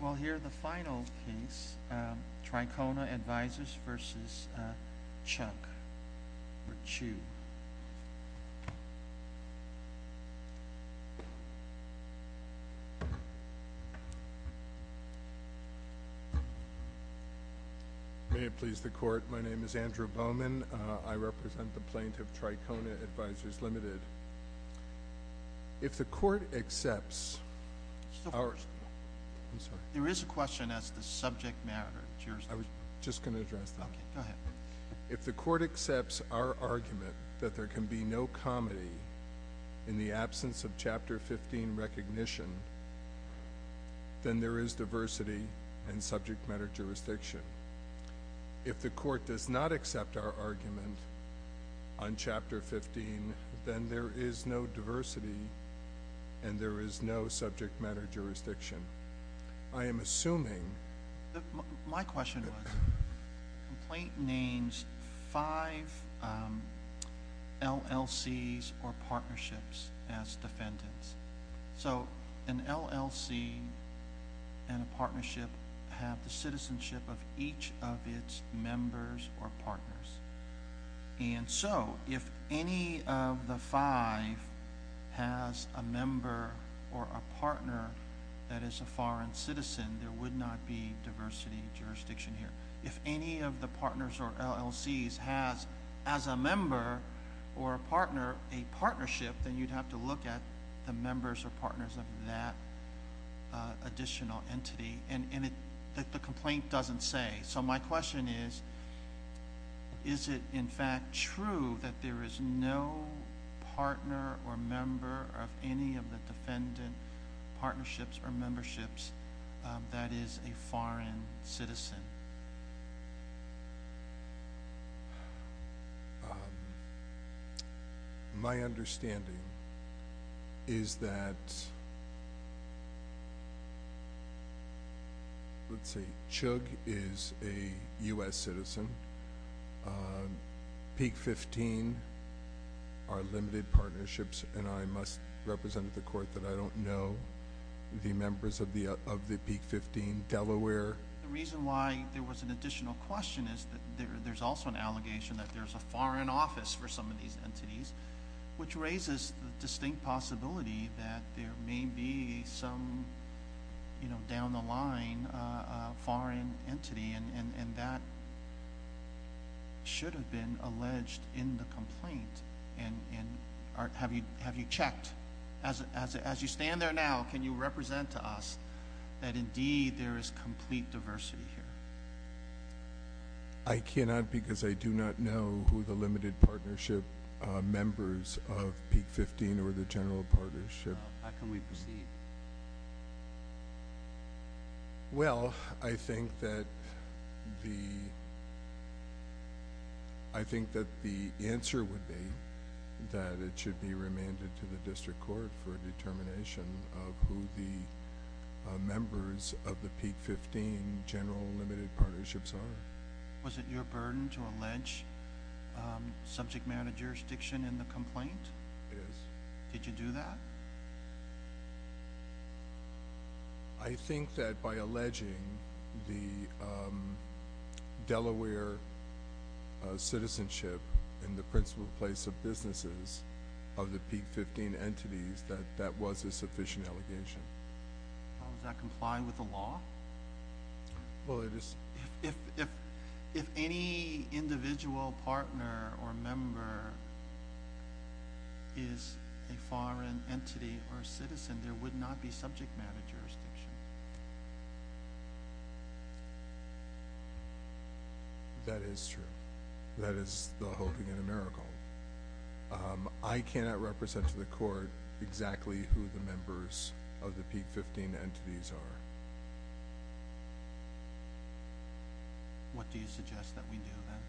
Well here the final case Trikona Advisers v. Chuck or Chiu. May it please the court my name is Andrew Bowman I represent the plaintiff Trikona Advisers Limited if the court accepts there is a question as the subject matter I was just going to address if the court accepts our argument that there can be no comedy in the absence of chapter 15 recognition then there is diversity and subject matter jurisdiction if the court does not accept our argument on chapter 15 then there is no diversity and there is no subject matter jurisdiction I am assuming my question was complaint names five LLC's or partnerships as defendants so an LLC and a partnership have the partners and so if any of the five has a member or a partner that is a foreign citizen there would not be diversity jurisdiction here if any of the partners or LLC's has as a member or a partner a partnership then you'd have to look at the members or partners of that additional entity and in it that the is it in fact true that there is no partner or member of any of the defendant partnerships or memberships that is a foreign citizen my understanding is that let's say chug is a US citizen peak 15 are limited partnerships and I must represent the court that I don't know the members of the of the peak 15 Delaware the reason why there was an additional question is that there's also an allegation that there's a foreign office for some of these entities which down the line foreign entity and that should have been alleged in the complaint and have you have you checked as you stand there now can you represent to us that indeed there is complete diversity here I cannot because I do not know who the limited partnership members of peak 15 or the well I think that the I think that the answer would be that it should be remanded to the district court for a determination of who the members of the peak 15 general limited partnerships are was it your burden to allege subject jurisdiction in the complaint did you do that I think that by alleging the Delaware citizenship in the principal place of businesses of the peak 15 entities that that was a sufficient allegation how does that comply with the well it is if if any individual partner or member is a foreign entity or citizen there would not be subject matter jurisdiction that is true that is the whole thing in a miracle I cannot represent to the what do you suggest that we do that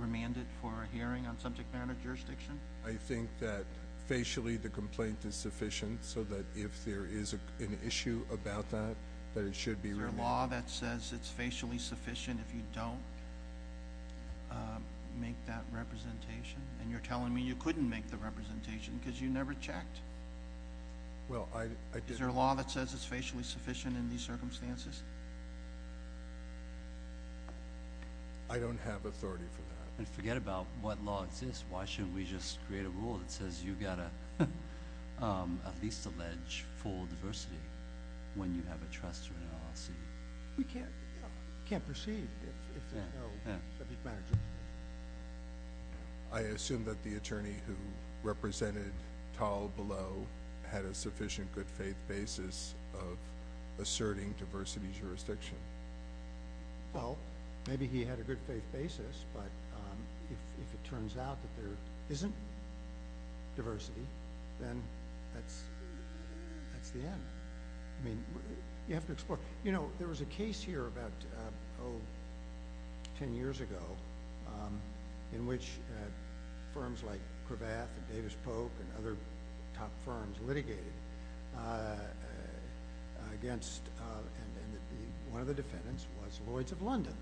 remanded for a hearing on subject matter jurisdiction I think that facially the complaint is sufficient so that if there is an issue about that that it should be your law that says it's facially sufficient if you don't make that representation and you're telling me you couldn't make the representation because you never checked well I did your law that says it's facially sufficient in these circumstances I don't have authority for that and forget about what logs is why shouldn't we just create a rule that says you've got a at least allege full diversity when you have a trust we can't can't perceive I assume that the attorney who represented tall had a sufficient good faith basis of asserting diversity jurisdiction well maybe he had a good faith basis but if it turns out that there isn't diversity then that's that's the end I mean you have to explore you know there was a case here about Oh ten years ago in which firms like Davis Polk and other top firms litigated against one of the defendants was Lloyd's of London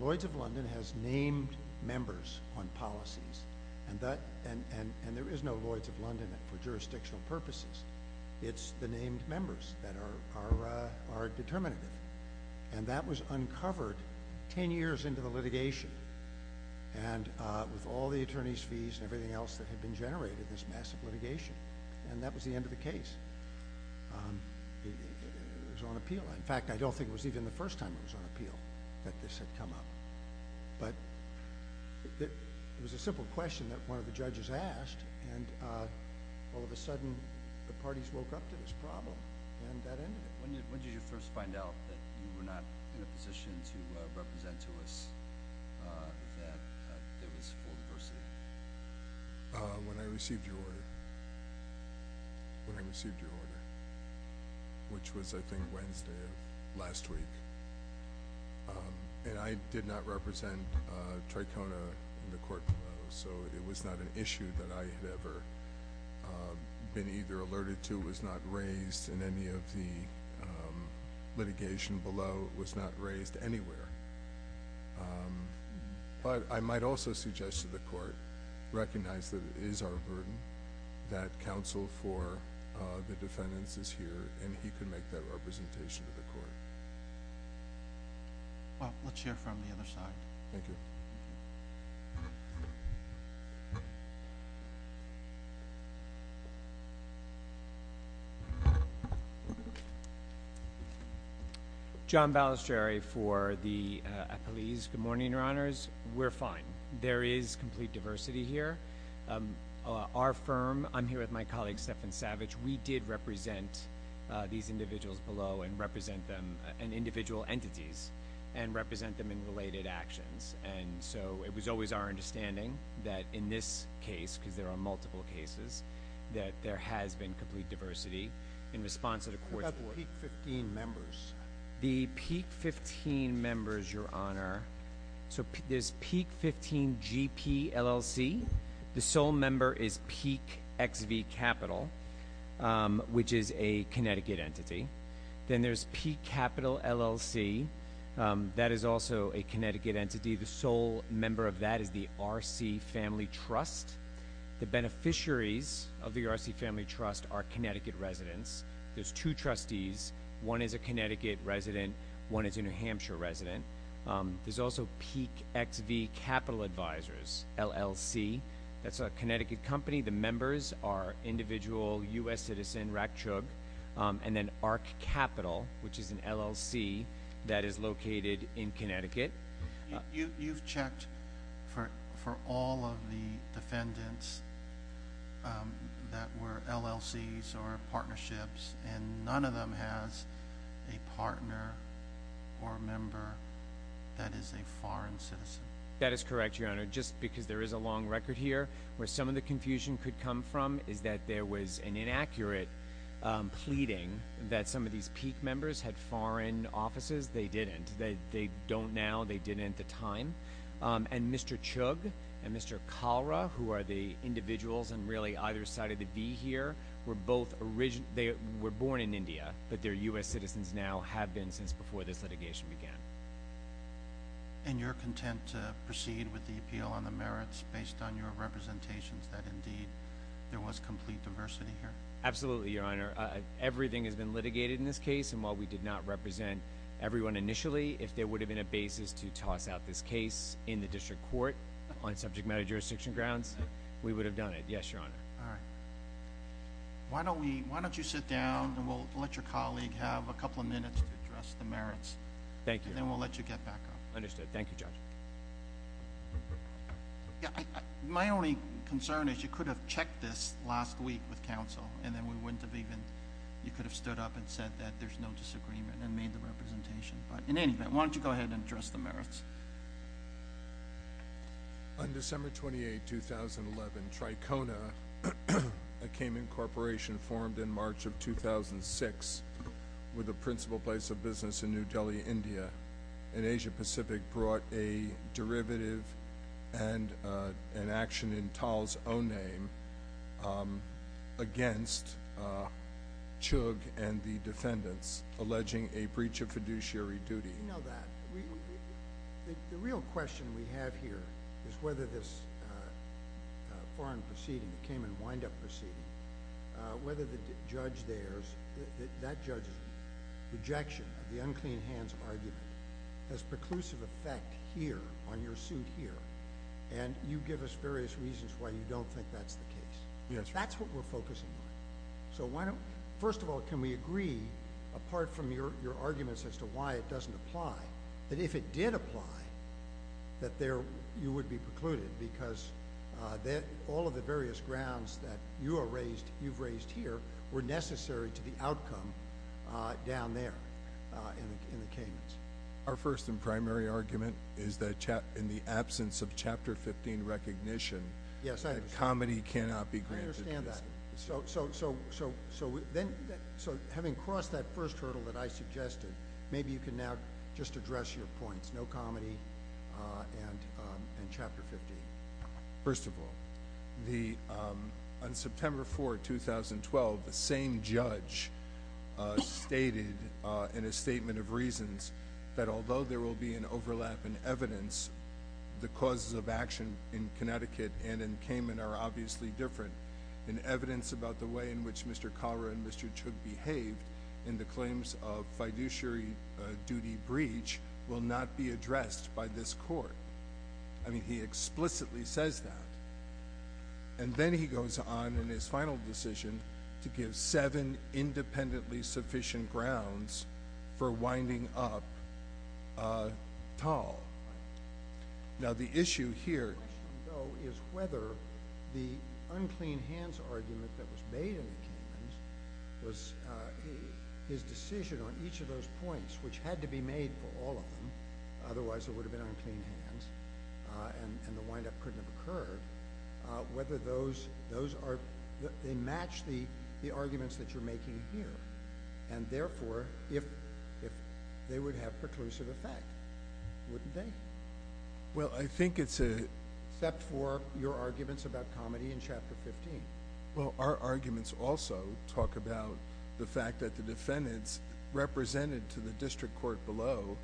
Lloyd's of London has named members on policies and that and and and there is no Lloyd's of London for jurisdictional purposes it's the named members that are are are determinative and that was uncovered ten years into the litigation and with all the attorneys fees and everything else that had been generated this massive litigation and that was the end of the case it was on appeal in fact I don't think it was even the first time it was on appeal that this had come up but it was a simple question that one of the judges asked and all of a sudden the parties woke up to this problem first find out that you were not in a position to represent to us when I received your order when I received your order which was I think Wednesday last week and I did not represent Tricona in the court so it was not an issue that I had ever been either alerted to was not raised in any of the litigation below was not raised anywhere but I might also suggest to the court recognize that it is our burden that counsel for the defendants is here and he can make that representation of the court well let's hear from the other side John Balistrieri for the police good morning your honors we're fine there is complete diversity here our firm I'm here with my colleague Stephan Savage we did represent these individuals below and represent them and individual entities and represent them in related actions and so it was always our understanding that in this case because there are multiple cases that there has been complete diversity in response to the court 15 members the peak 15 members your honor so there's peak 15 GP LLC the sole member is peak XV capital which is a Connecticut entity then there's peak capital LLC that is also a Connecticut entity the sole member of that is the RC family trust the beneficiaries of the RC family trust are Connecticut residents there's two trustees one is a Connecticut resident one is a New Hampshire resident there's also peak XV capital advisors LLC that's a Connecticut company the members are individual u.s. citizen Raksha and then arc capital which is an LLC that is located in Connecticut you've checked for for all of the defendants that were LLCs or partnerships and none of them has a partner or a member that is a foreign citizen that is correct your honor just because there is a long record here where some of the confusion could come from is that there was an inaccurate pleading that some of these peak members had foreign offices they didn't they they don't now they didn't at the time and mr. chug and mr. cholera who are the individuals and really either side of the V here were both original they were born in India but their u.s. citizens now have been since before this litigation began and you're content to proceed with the appeal on the merits based on your representations that indeed there was complete diversity here absolutely your honor everything has been litigated in this case and while we did not represent everyone initially if there would have been a basis to toss out this case in the district court on subject matter jurisdiction grounds we would have done it yes your honor all right why don't we why don't you sit down and we'll let your colleague have a couple of minutes to address the merits thank you then we'll let you get back up understood thank you judge yeah my only concern is you could have checked this last week with counsel and then we wouldn't have even you could have stood up and said that there's no disagreement and made the representation but in any event why don't you go ahead and address the merits on December 28 2011 Tricona I came in corporation formed in March of 2006 with a principal place of business in New Delhi India and Asia-Pacific brought a derivative and an action in towels own name against chug and the defendants alleging a breach of fiduciary duty know that the real question we have here is whether this foreign proceeding came and wind up proceeding whether the judge there's that rejection of the unclean hands argument has preclusive effect here on your suit here and you give us various reasons why you don't think that's the case yes that's what we're focusing on so why don't first of all can we agree apart from your arguments as to why it doesn't apply that if it did apply that there you would be precluded because that all of the various grounds that you are necessary to the outcome down there our first and primary argument is that in the absence of chapter 15 recognition comedy cannot be so so so so so then so having crossed that first hurdle that I suggested maybe you can now just address your points no comedy and chapter 50 first of all the on September 4 2012 the same judge stated in a statement of reasons that although there will be an overlap in evidence the causes of action in Connecticut and in Cayman are obviously different in evidence about the way in which Mr. Cara and Mr. to behave in the claims of fiduciary duty breach will not be addressed by this court I mean he explicitly says that and then he goes on in his final decision to give seven independently sufficient grounds for winding up tall now the his decision on each of those points which had to be made for all of them otherwise it would have been on clean hands and the wind-up couldn't have occurred whether those those are they match the the arguments that you're making here and therefore if if they would have perclusive effect wouldn't they well I think it's a step for your arguments about comedy in chapter 15 well our arguments also talk about the fact that the defendants represented to the district court below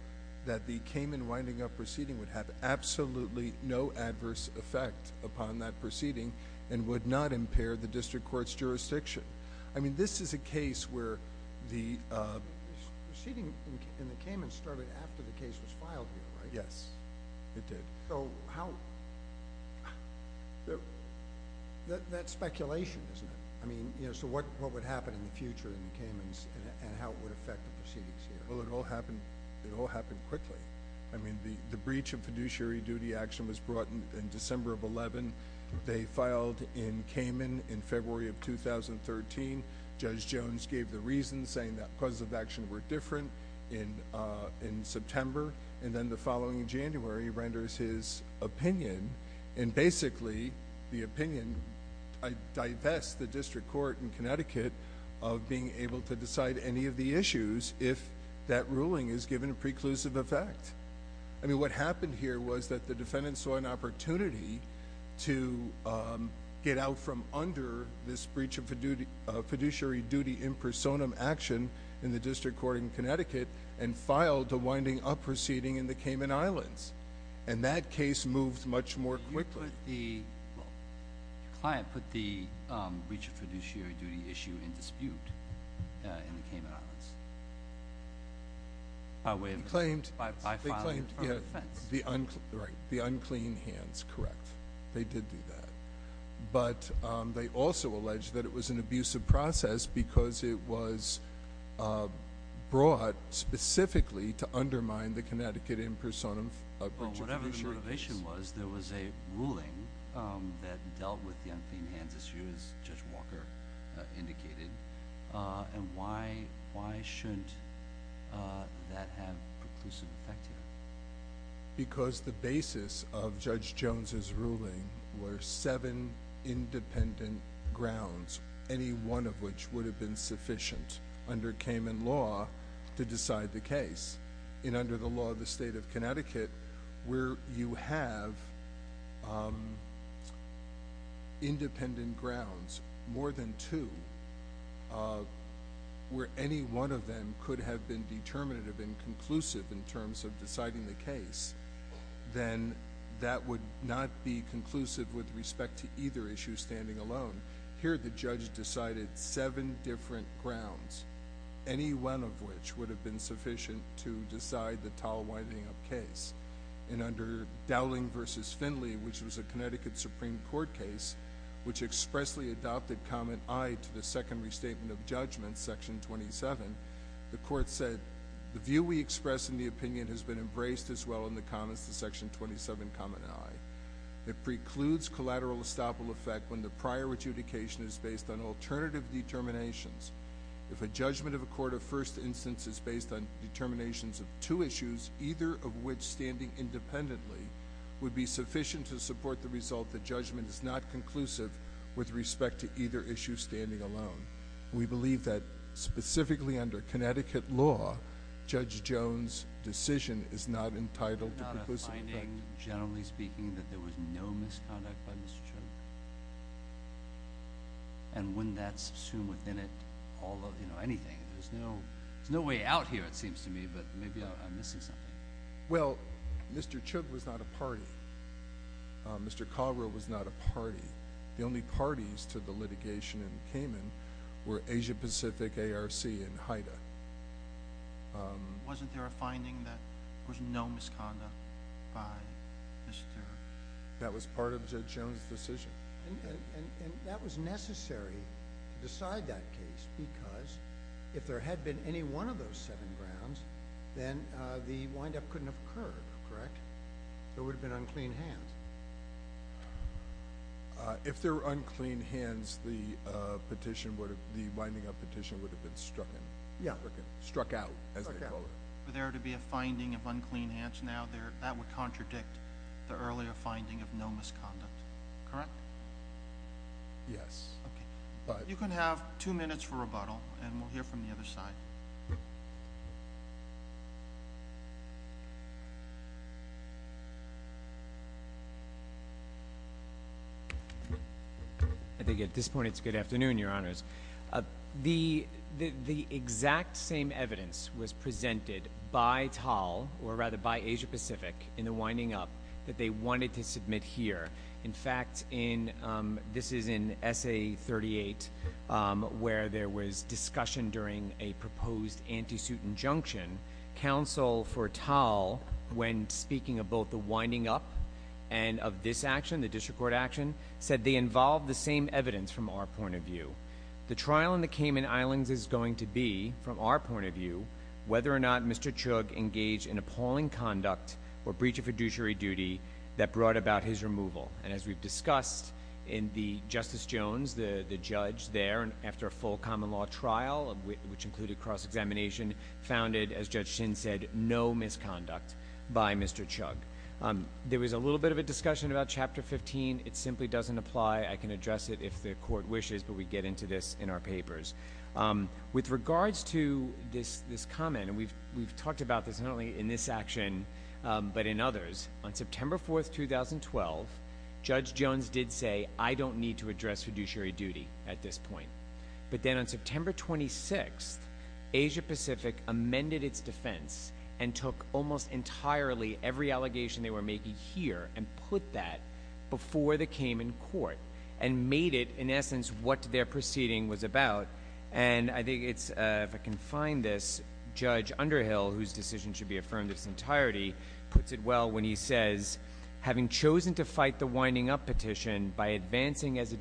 that the Cayman winding up proceeding would have absolutely no adverse effect upon that proceeding and would not impair the district courts jurisdiction I mean this is a case where the seating in the Cayman started after the case was filed yes it did so how that that speculation isn't I mean you know so what what would happen in the future in the Cayman's and how it would affect the proceedings here well it all happened it all happened quickly I mean the the breach of fiduciary duty action was brought in December of 11 they filed in Cayman in February of 2013 judge Jones gave the reason saying that the causes of action were different in in September and then the following January renders his opinion and basically the opinion I divest the district court in Connecticut of being able to decide any of the issues if that ruling is given a preclusive effect I mean what happened here was that the defendant saw an opportunity to get out from under this breach of fiduciary duty in personam action in the district court in Connecticut and filed a winding up proceeding in the Cayman Islands and that case moves much more quickly the client put the breach of fiduciary duty issue in dispute in the Cayman Islands I would have claimed by the uncle the unclean hands correct they did do that but they also alleged that it was an abusive process because it was brought specifically to undermine the Connecticut in personam whatever the motivation was there was a ruling that dealt with the unclean hands issue as Judge Walker indicated and why why shouldn't that have preclusive effect because the basis of Judge Jones's ruling were seven independent grounds any one of which would have been sufficient under Cayman law to decide the case in under the law of the state of Connecticut where you have independent grounds more than two where any one of them could have been determinative and deciding the case then that would not be conclusive with respect to either issue standing alone here the judge decided seven different grounds any one of which would have been sufficient to decide the tall winding up case in under Dowling versus Finley which was a Connecticut Supreme Court case which expressly adopted comment I to the secondary statement of judgment section 27 the court said the view we express in the opinion has been embraced as well in the comments to section 27 common it precludes collateral estoppel effect when the prior adjudication is based on alternative determinations if a judgment of a court of first instance is based on determinations of two issues either of which standing independently would be sufficient to support the result the judgment is not conclusive with respect to either issue standing alone we believe that specifically under Connecticut law judge Jones decision is not entitled to finding generally speaking that there was no misconduct and when that's soon within it although you know anything there's no there's no way out here it seems to me but maybe I'm missing something well mr. Chuck was not a party mr. Caldwell was not a party the only parties to the were Asia-Pacific ARC in Haida wasn't there a finding that there's no misconduct by mr. that was part of the Jones decision and that was necessary to decide that case because if there had been any one of those seven grounds then the wind-up couldn't have occurred correct there would have been unclean hands if they're unclean hands the petition would have the winding up petition would have been struck in yeah okay struck out there to be a finding of unclean hands now there that would contradict the earlier finding of no misconduct correct yes but you can have two minutes for a rebuttal and we'll hear from the other side I think at this point it's good afternoon your honors the the exact same evidence was presented by tall or rather by Asia-Pacific in the winding up that they wanted to submit here in fact in this is in essay 38 where there was discussion during a proposed anti-suit injunction counsel for tall when speaking of both the winding up and of this action the district court action said they involved the same evidence from our point of view the trial in the Cayman Islands is going to be from our point of view whether or not mr. chug engaged in appalling conduct or breach of fiduciary duty that brought about his removal and as we've discussed in the justice Jones the the judge there and after a full common-law trial which included cross-examination founded as judge chin said no misconduct by mr. chug there was a little bit of a discussion about chapter 15 it simply doesn't apply I can address it if the court wishes but we get into this in our papers with regards to this this comment and we've we've talked about this not only in this action but in others on September 4th 2012 judge Jones did say I don't need to address fiduciary duty at this point but September 26th Asia Pacific amended its defense and took almost entirely every allegation they were making here and put that before the came in court and made it in essence what their proceeding was about and I think it's if I can find this judge Underhill whose decision should be affirmed its entirety puts it well when he says having chosen to fight the winding up petition by advancing as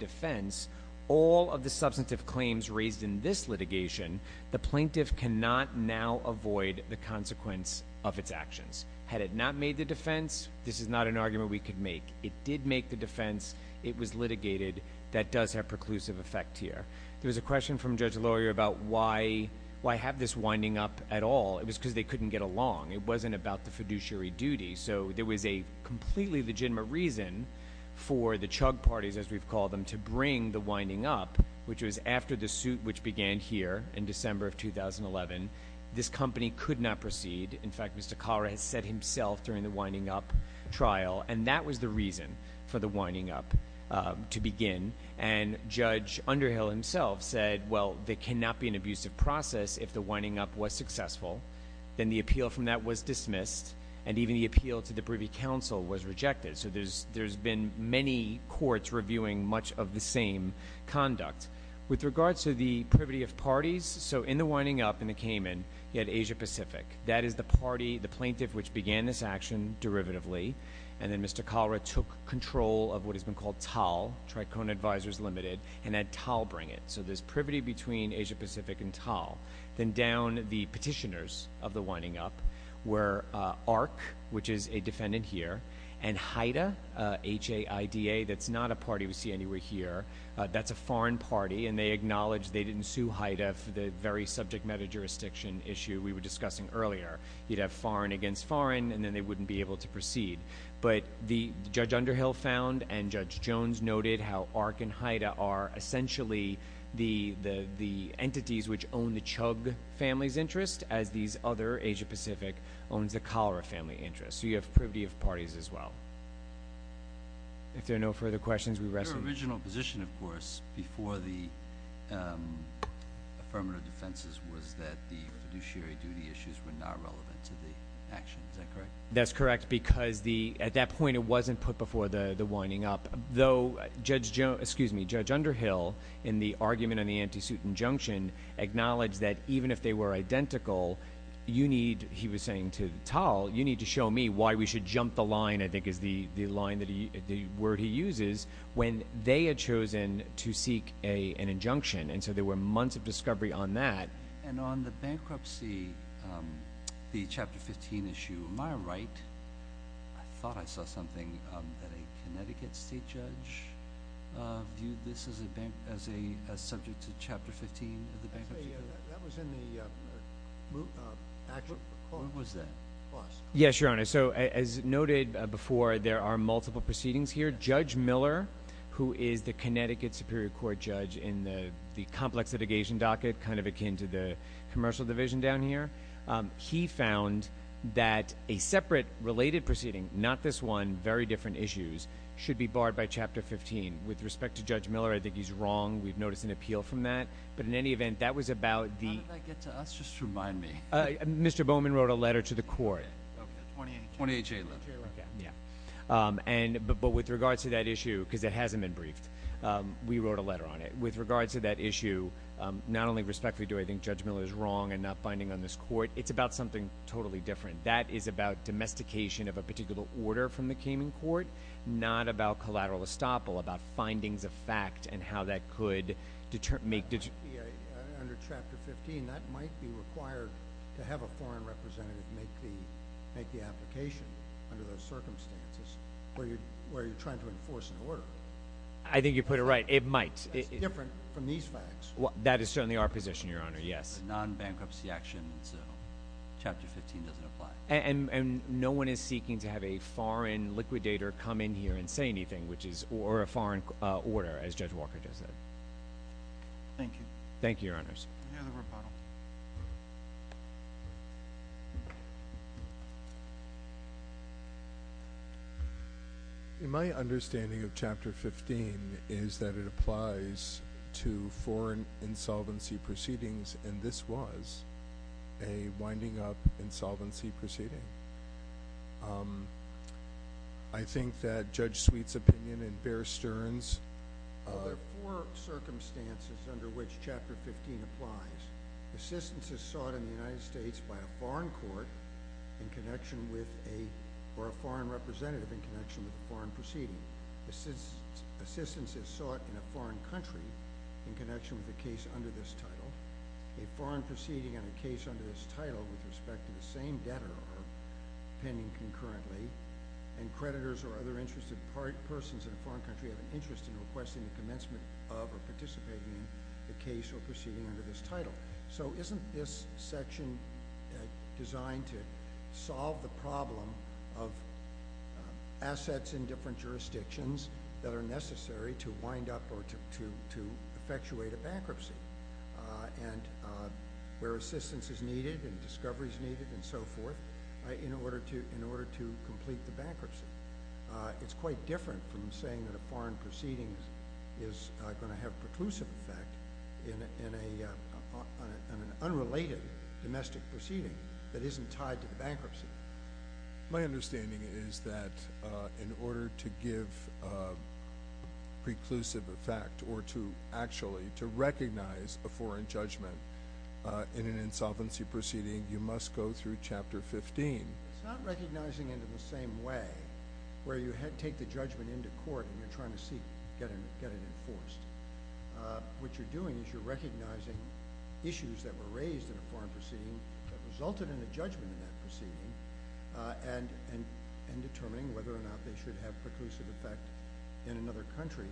raised in this litigation the plaintiff cannot now avoid the consequence of its actions had it not made the defense this is not an argument we could make it did make the defense it was litigated that does have preclusive effect here there was a question from judge lawyer about why why have this winding up at all it was because they couldn't get along it wasn't about the fiduciary duty so there was a completely legitimate reason for the chug parties as we've called them to after the suit which began here in December of 2011 this company could not proceed in fact Mr. Carr has said himself during the winding up trial and that was the reason for the winding up to begin and judge Underhill himself said well they cannot be an abusive process if the winding up was successful then the appeal from that was dismissed and even the appeal to the Privy Council was rejected so there's there's been many courts reviewing much of the conduct with regards to the privity of parties so in the winding up in the Cayman yet Asia-Pacific that is the party the plaintiff which began this action derivatively and then Mr. cholera took control of what has been called tall tricone advisors limited and that tall bring it so this privity between Asia-Pacific and tall then down the petitioners of the winding up where arc which is a defendant here and Haida ha IDA that's not a party we see anywhere here that's a foreign party and they acknowledged they didn't sue Haida for the very subject meta-jurisdiction issue we were discussing earlier you'd have foreign against foreign and then they wouldn't be able to proceed but the judge Underhill found and judge Jones noted how arc and Haida are essentially the the the entities which own the chug families interest as these other Asia Pacific owns the cholera family interest so you have privity of parties as well if there are no further questions we rest original position of course before the affirmative defenses was that the fiduciary duty issues were not relevant to the actions that correct that's correct because the at that point it wasn't put before the the winding up though judge Joe excuse me judge Underhill in the argument on the anti-suit injunction acknowledge that even if they were identical you need he was saying to tall you need to show me why we should jump the line I think is the the line that he where he uses when they had chosen to seek a an injunction and so there were months of discovery on that and on the bankruptcy the chapter 15 issue my right I thought I saw yes your honor so as noted before there are multiple proceedings here judge Miller who is the Connecticut Superior Court judge in the complex litigation docket kind of akin to the commercial division down here he found that a very different issues should be barred by chapter 15 with respect to judge Miller I think he's wrong we've noticed an appeal from that but in any event that was about the remind me Mr. Bowman wrote a letter to the court and but but with regards to that issue because it hasn't been briefed we wrote a letter on it with regards to that issue not only respectfully do I think judge Miller's wrong and not finding on this court it's about something totally different that is about domestication of a particular order from the Cayman Court not about collateral estoppel about findings of fact and how that could determine make it under chapter 15 that might be required to have a foreign representative make the make the application under the circumstances where you're where you're trying to enforce an order I think you put it right it might be different from these facts what that is certainly our your honor yes non-bankruptcy action and so chapter 15 doesn't apply and and no one is seeking to have a foreign liquidator come in here and say anything which is or a foreign order as judge Walker does that thank you thank you your honors in my understanding of chapter 15 is that it applies to foreign insolvency proceedings and this was a winding up insolvency proceeding I think that judge Sweet's opinion and Bear Stearns circumstances under which chapter 15 applies assistance is sought in the United States by a foreign court in connection with a or a foreign representative in connection with the foreign proceeding this is assistance is sought in a foreign country in a foreign proceeding on a case under this title with respect to the same debtor pending concurrently and creditors or other interested persons in a foreign country have an interest in requesting the commencement of or participating in the case or proceeding under this title so isn't this section designed to solve the problem of assets in different jurisdictions that are and where assistance is needed and discoveries needed and so forth in order to in order to complete the bankruptcy it's quite different from saying that a foreign proceedings is going to have preclusive effect in an unrelated domestic proceeding that isn't tied to the bankruptcy my understanding is that in order to give preclusive effect or to actually to recognize a foreign judgment in an insolvency proceeding you must go through chapter 15 recognizing it in the same way where you had take the judgment into court and you're trying to seek getting get it enforced what you're doing is you're recognizing issues that were raised in a foreign proceeding that resulted in a judgment in that proceeding and and determining whether or not they should have preclusive effect in another country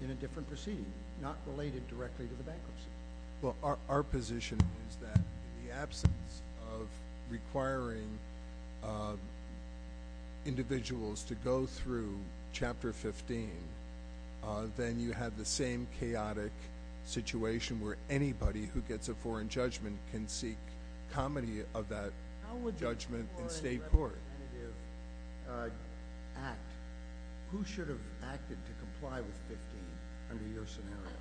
in a different proceeding not related directly to the bankruptcy well our position is that the absence of requiring individuals to go through chapter 15 then you have the same chaotic situation where anybody who gets a foreign judgment can seek comedy of that judgment in state court who should have acted to comply with 15 under your scenario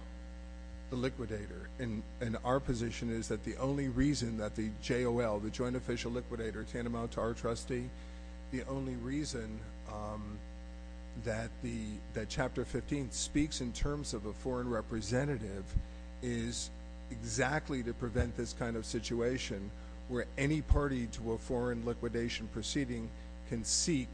the liquidator in and our position is that the only reason that the JOL the joint official liquidator can amount to our trustee the only reason that the that chapter 15 speaks in terms of a foreign representative is exactly to prevent this kind of situation where any party to a foreign liquidation proceeding can seek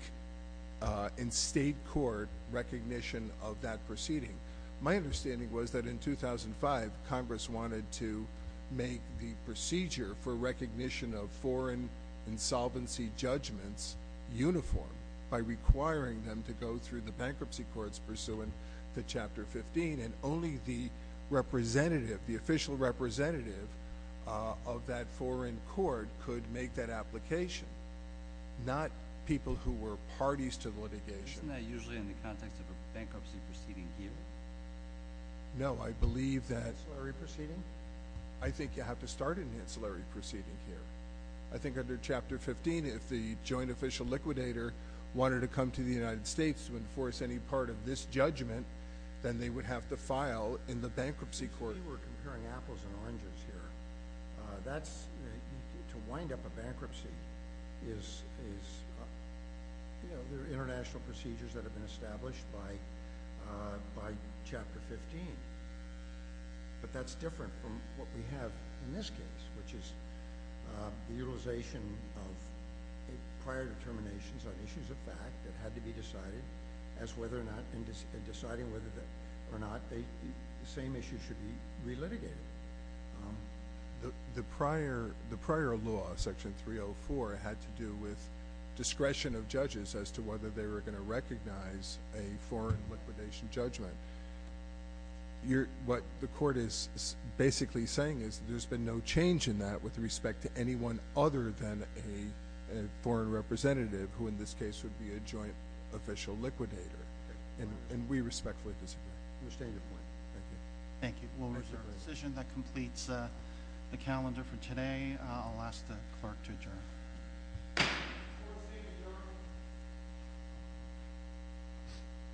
in state court recognition of that proceeding my understanding was that in 2005 Congress wanted to make the procedure for recognition of foreign insolvency judgments uniform by requiring them to go through the bankruptcy courts pursuant to chapter 15 and only the representative the official representative of that foreign court could make that application not people who were parties to the litigation usually in the context of a bankruptcy proceeding here no I believe that I think you have to start in the ancillary proceeding here I think under chapter 15 if the joint official liquidator wanted to come to the United States to enforce any part of this judgment then they would have to bankruptcy court we're comparing apples and oranges here that's to wind up a bankruptcy is you know there are international procedures that have been established by by chapter 15 but that's different from what we have in this case which is the utilization of prior determinations on issues of fact that had to be decided as whether or not in deciding whether that or not they the mission should be re-litigated the prior the prior law section 304 had to do with discretion of judges as to whether they were going to recognize a foreign liquidation judgment you're what the court is basically saying is there's been no change in that with respect to anyone other than a foreign representative who in this case would be a joint official liquidator and we respectfully disagree. Thank you. We'll reserve the decision that completes the calendar for today. I'll ask the clerk to adjourn.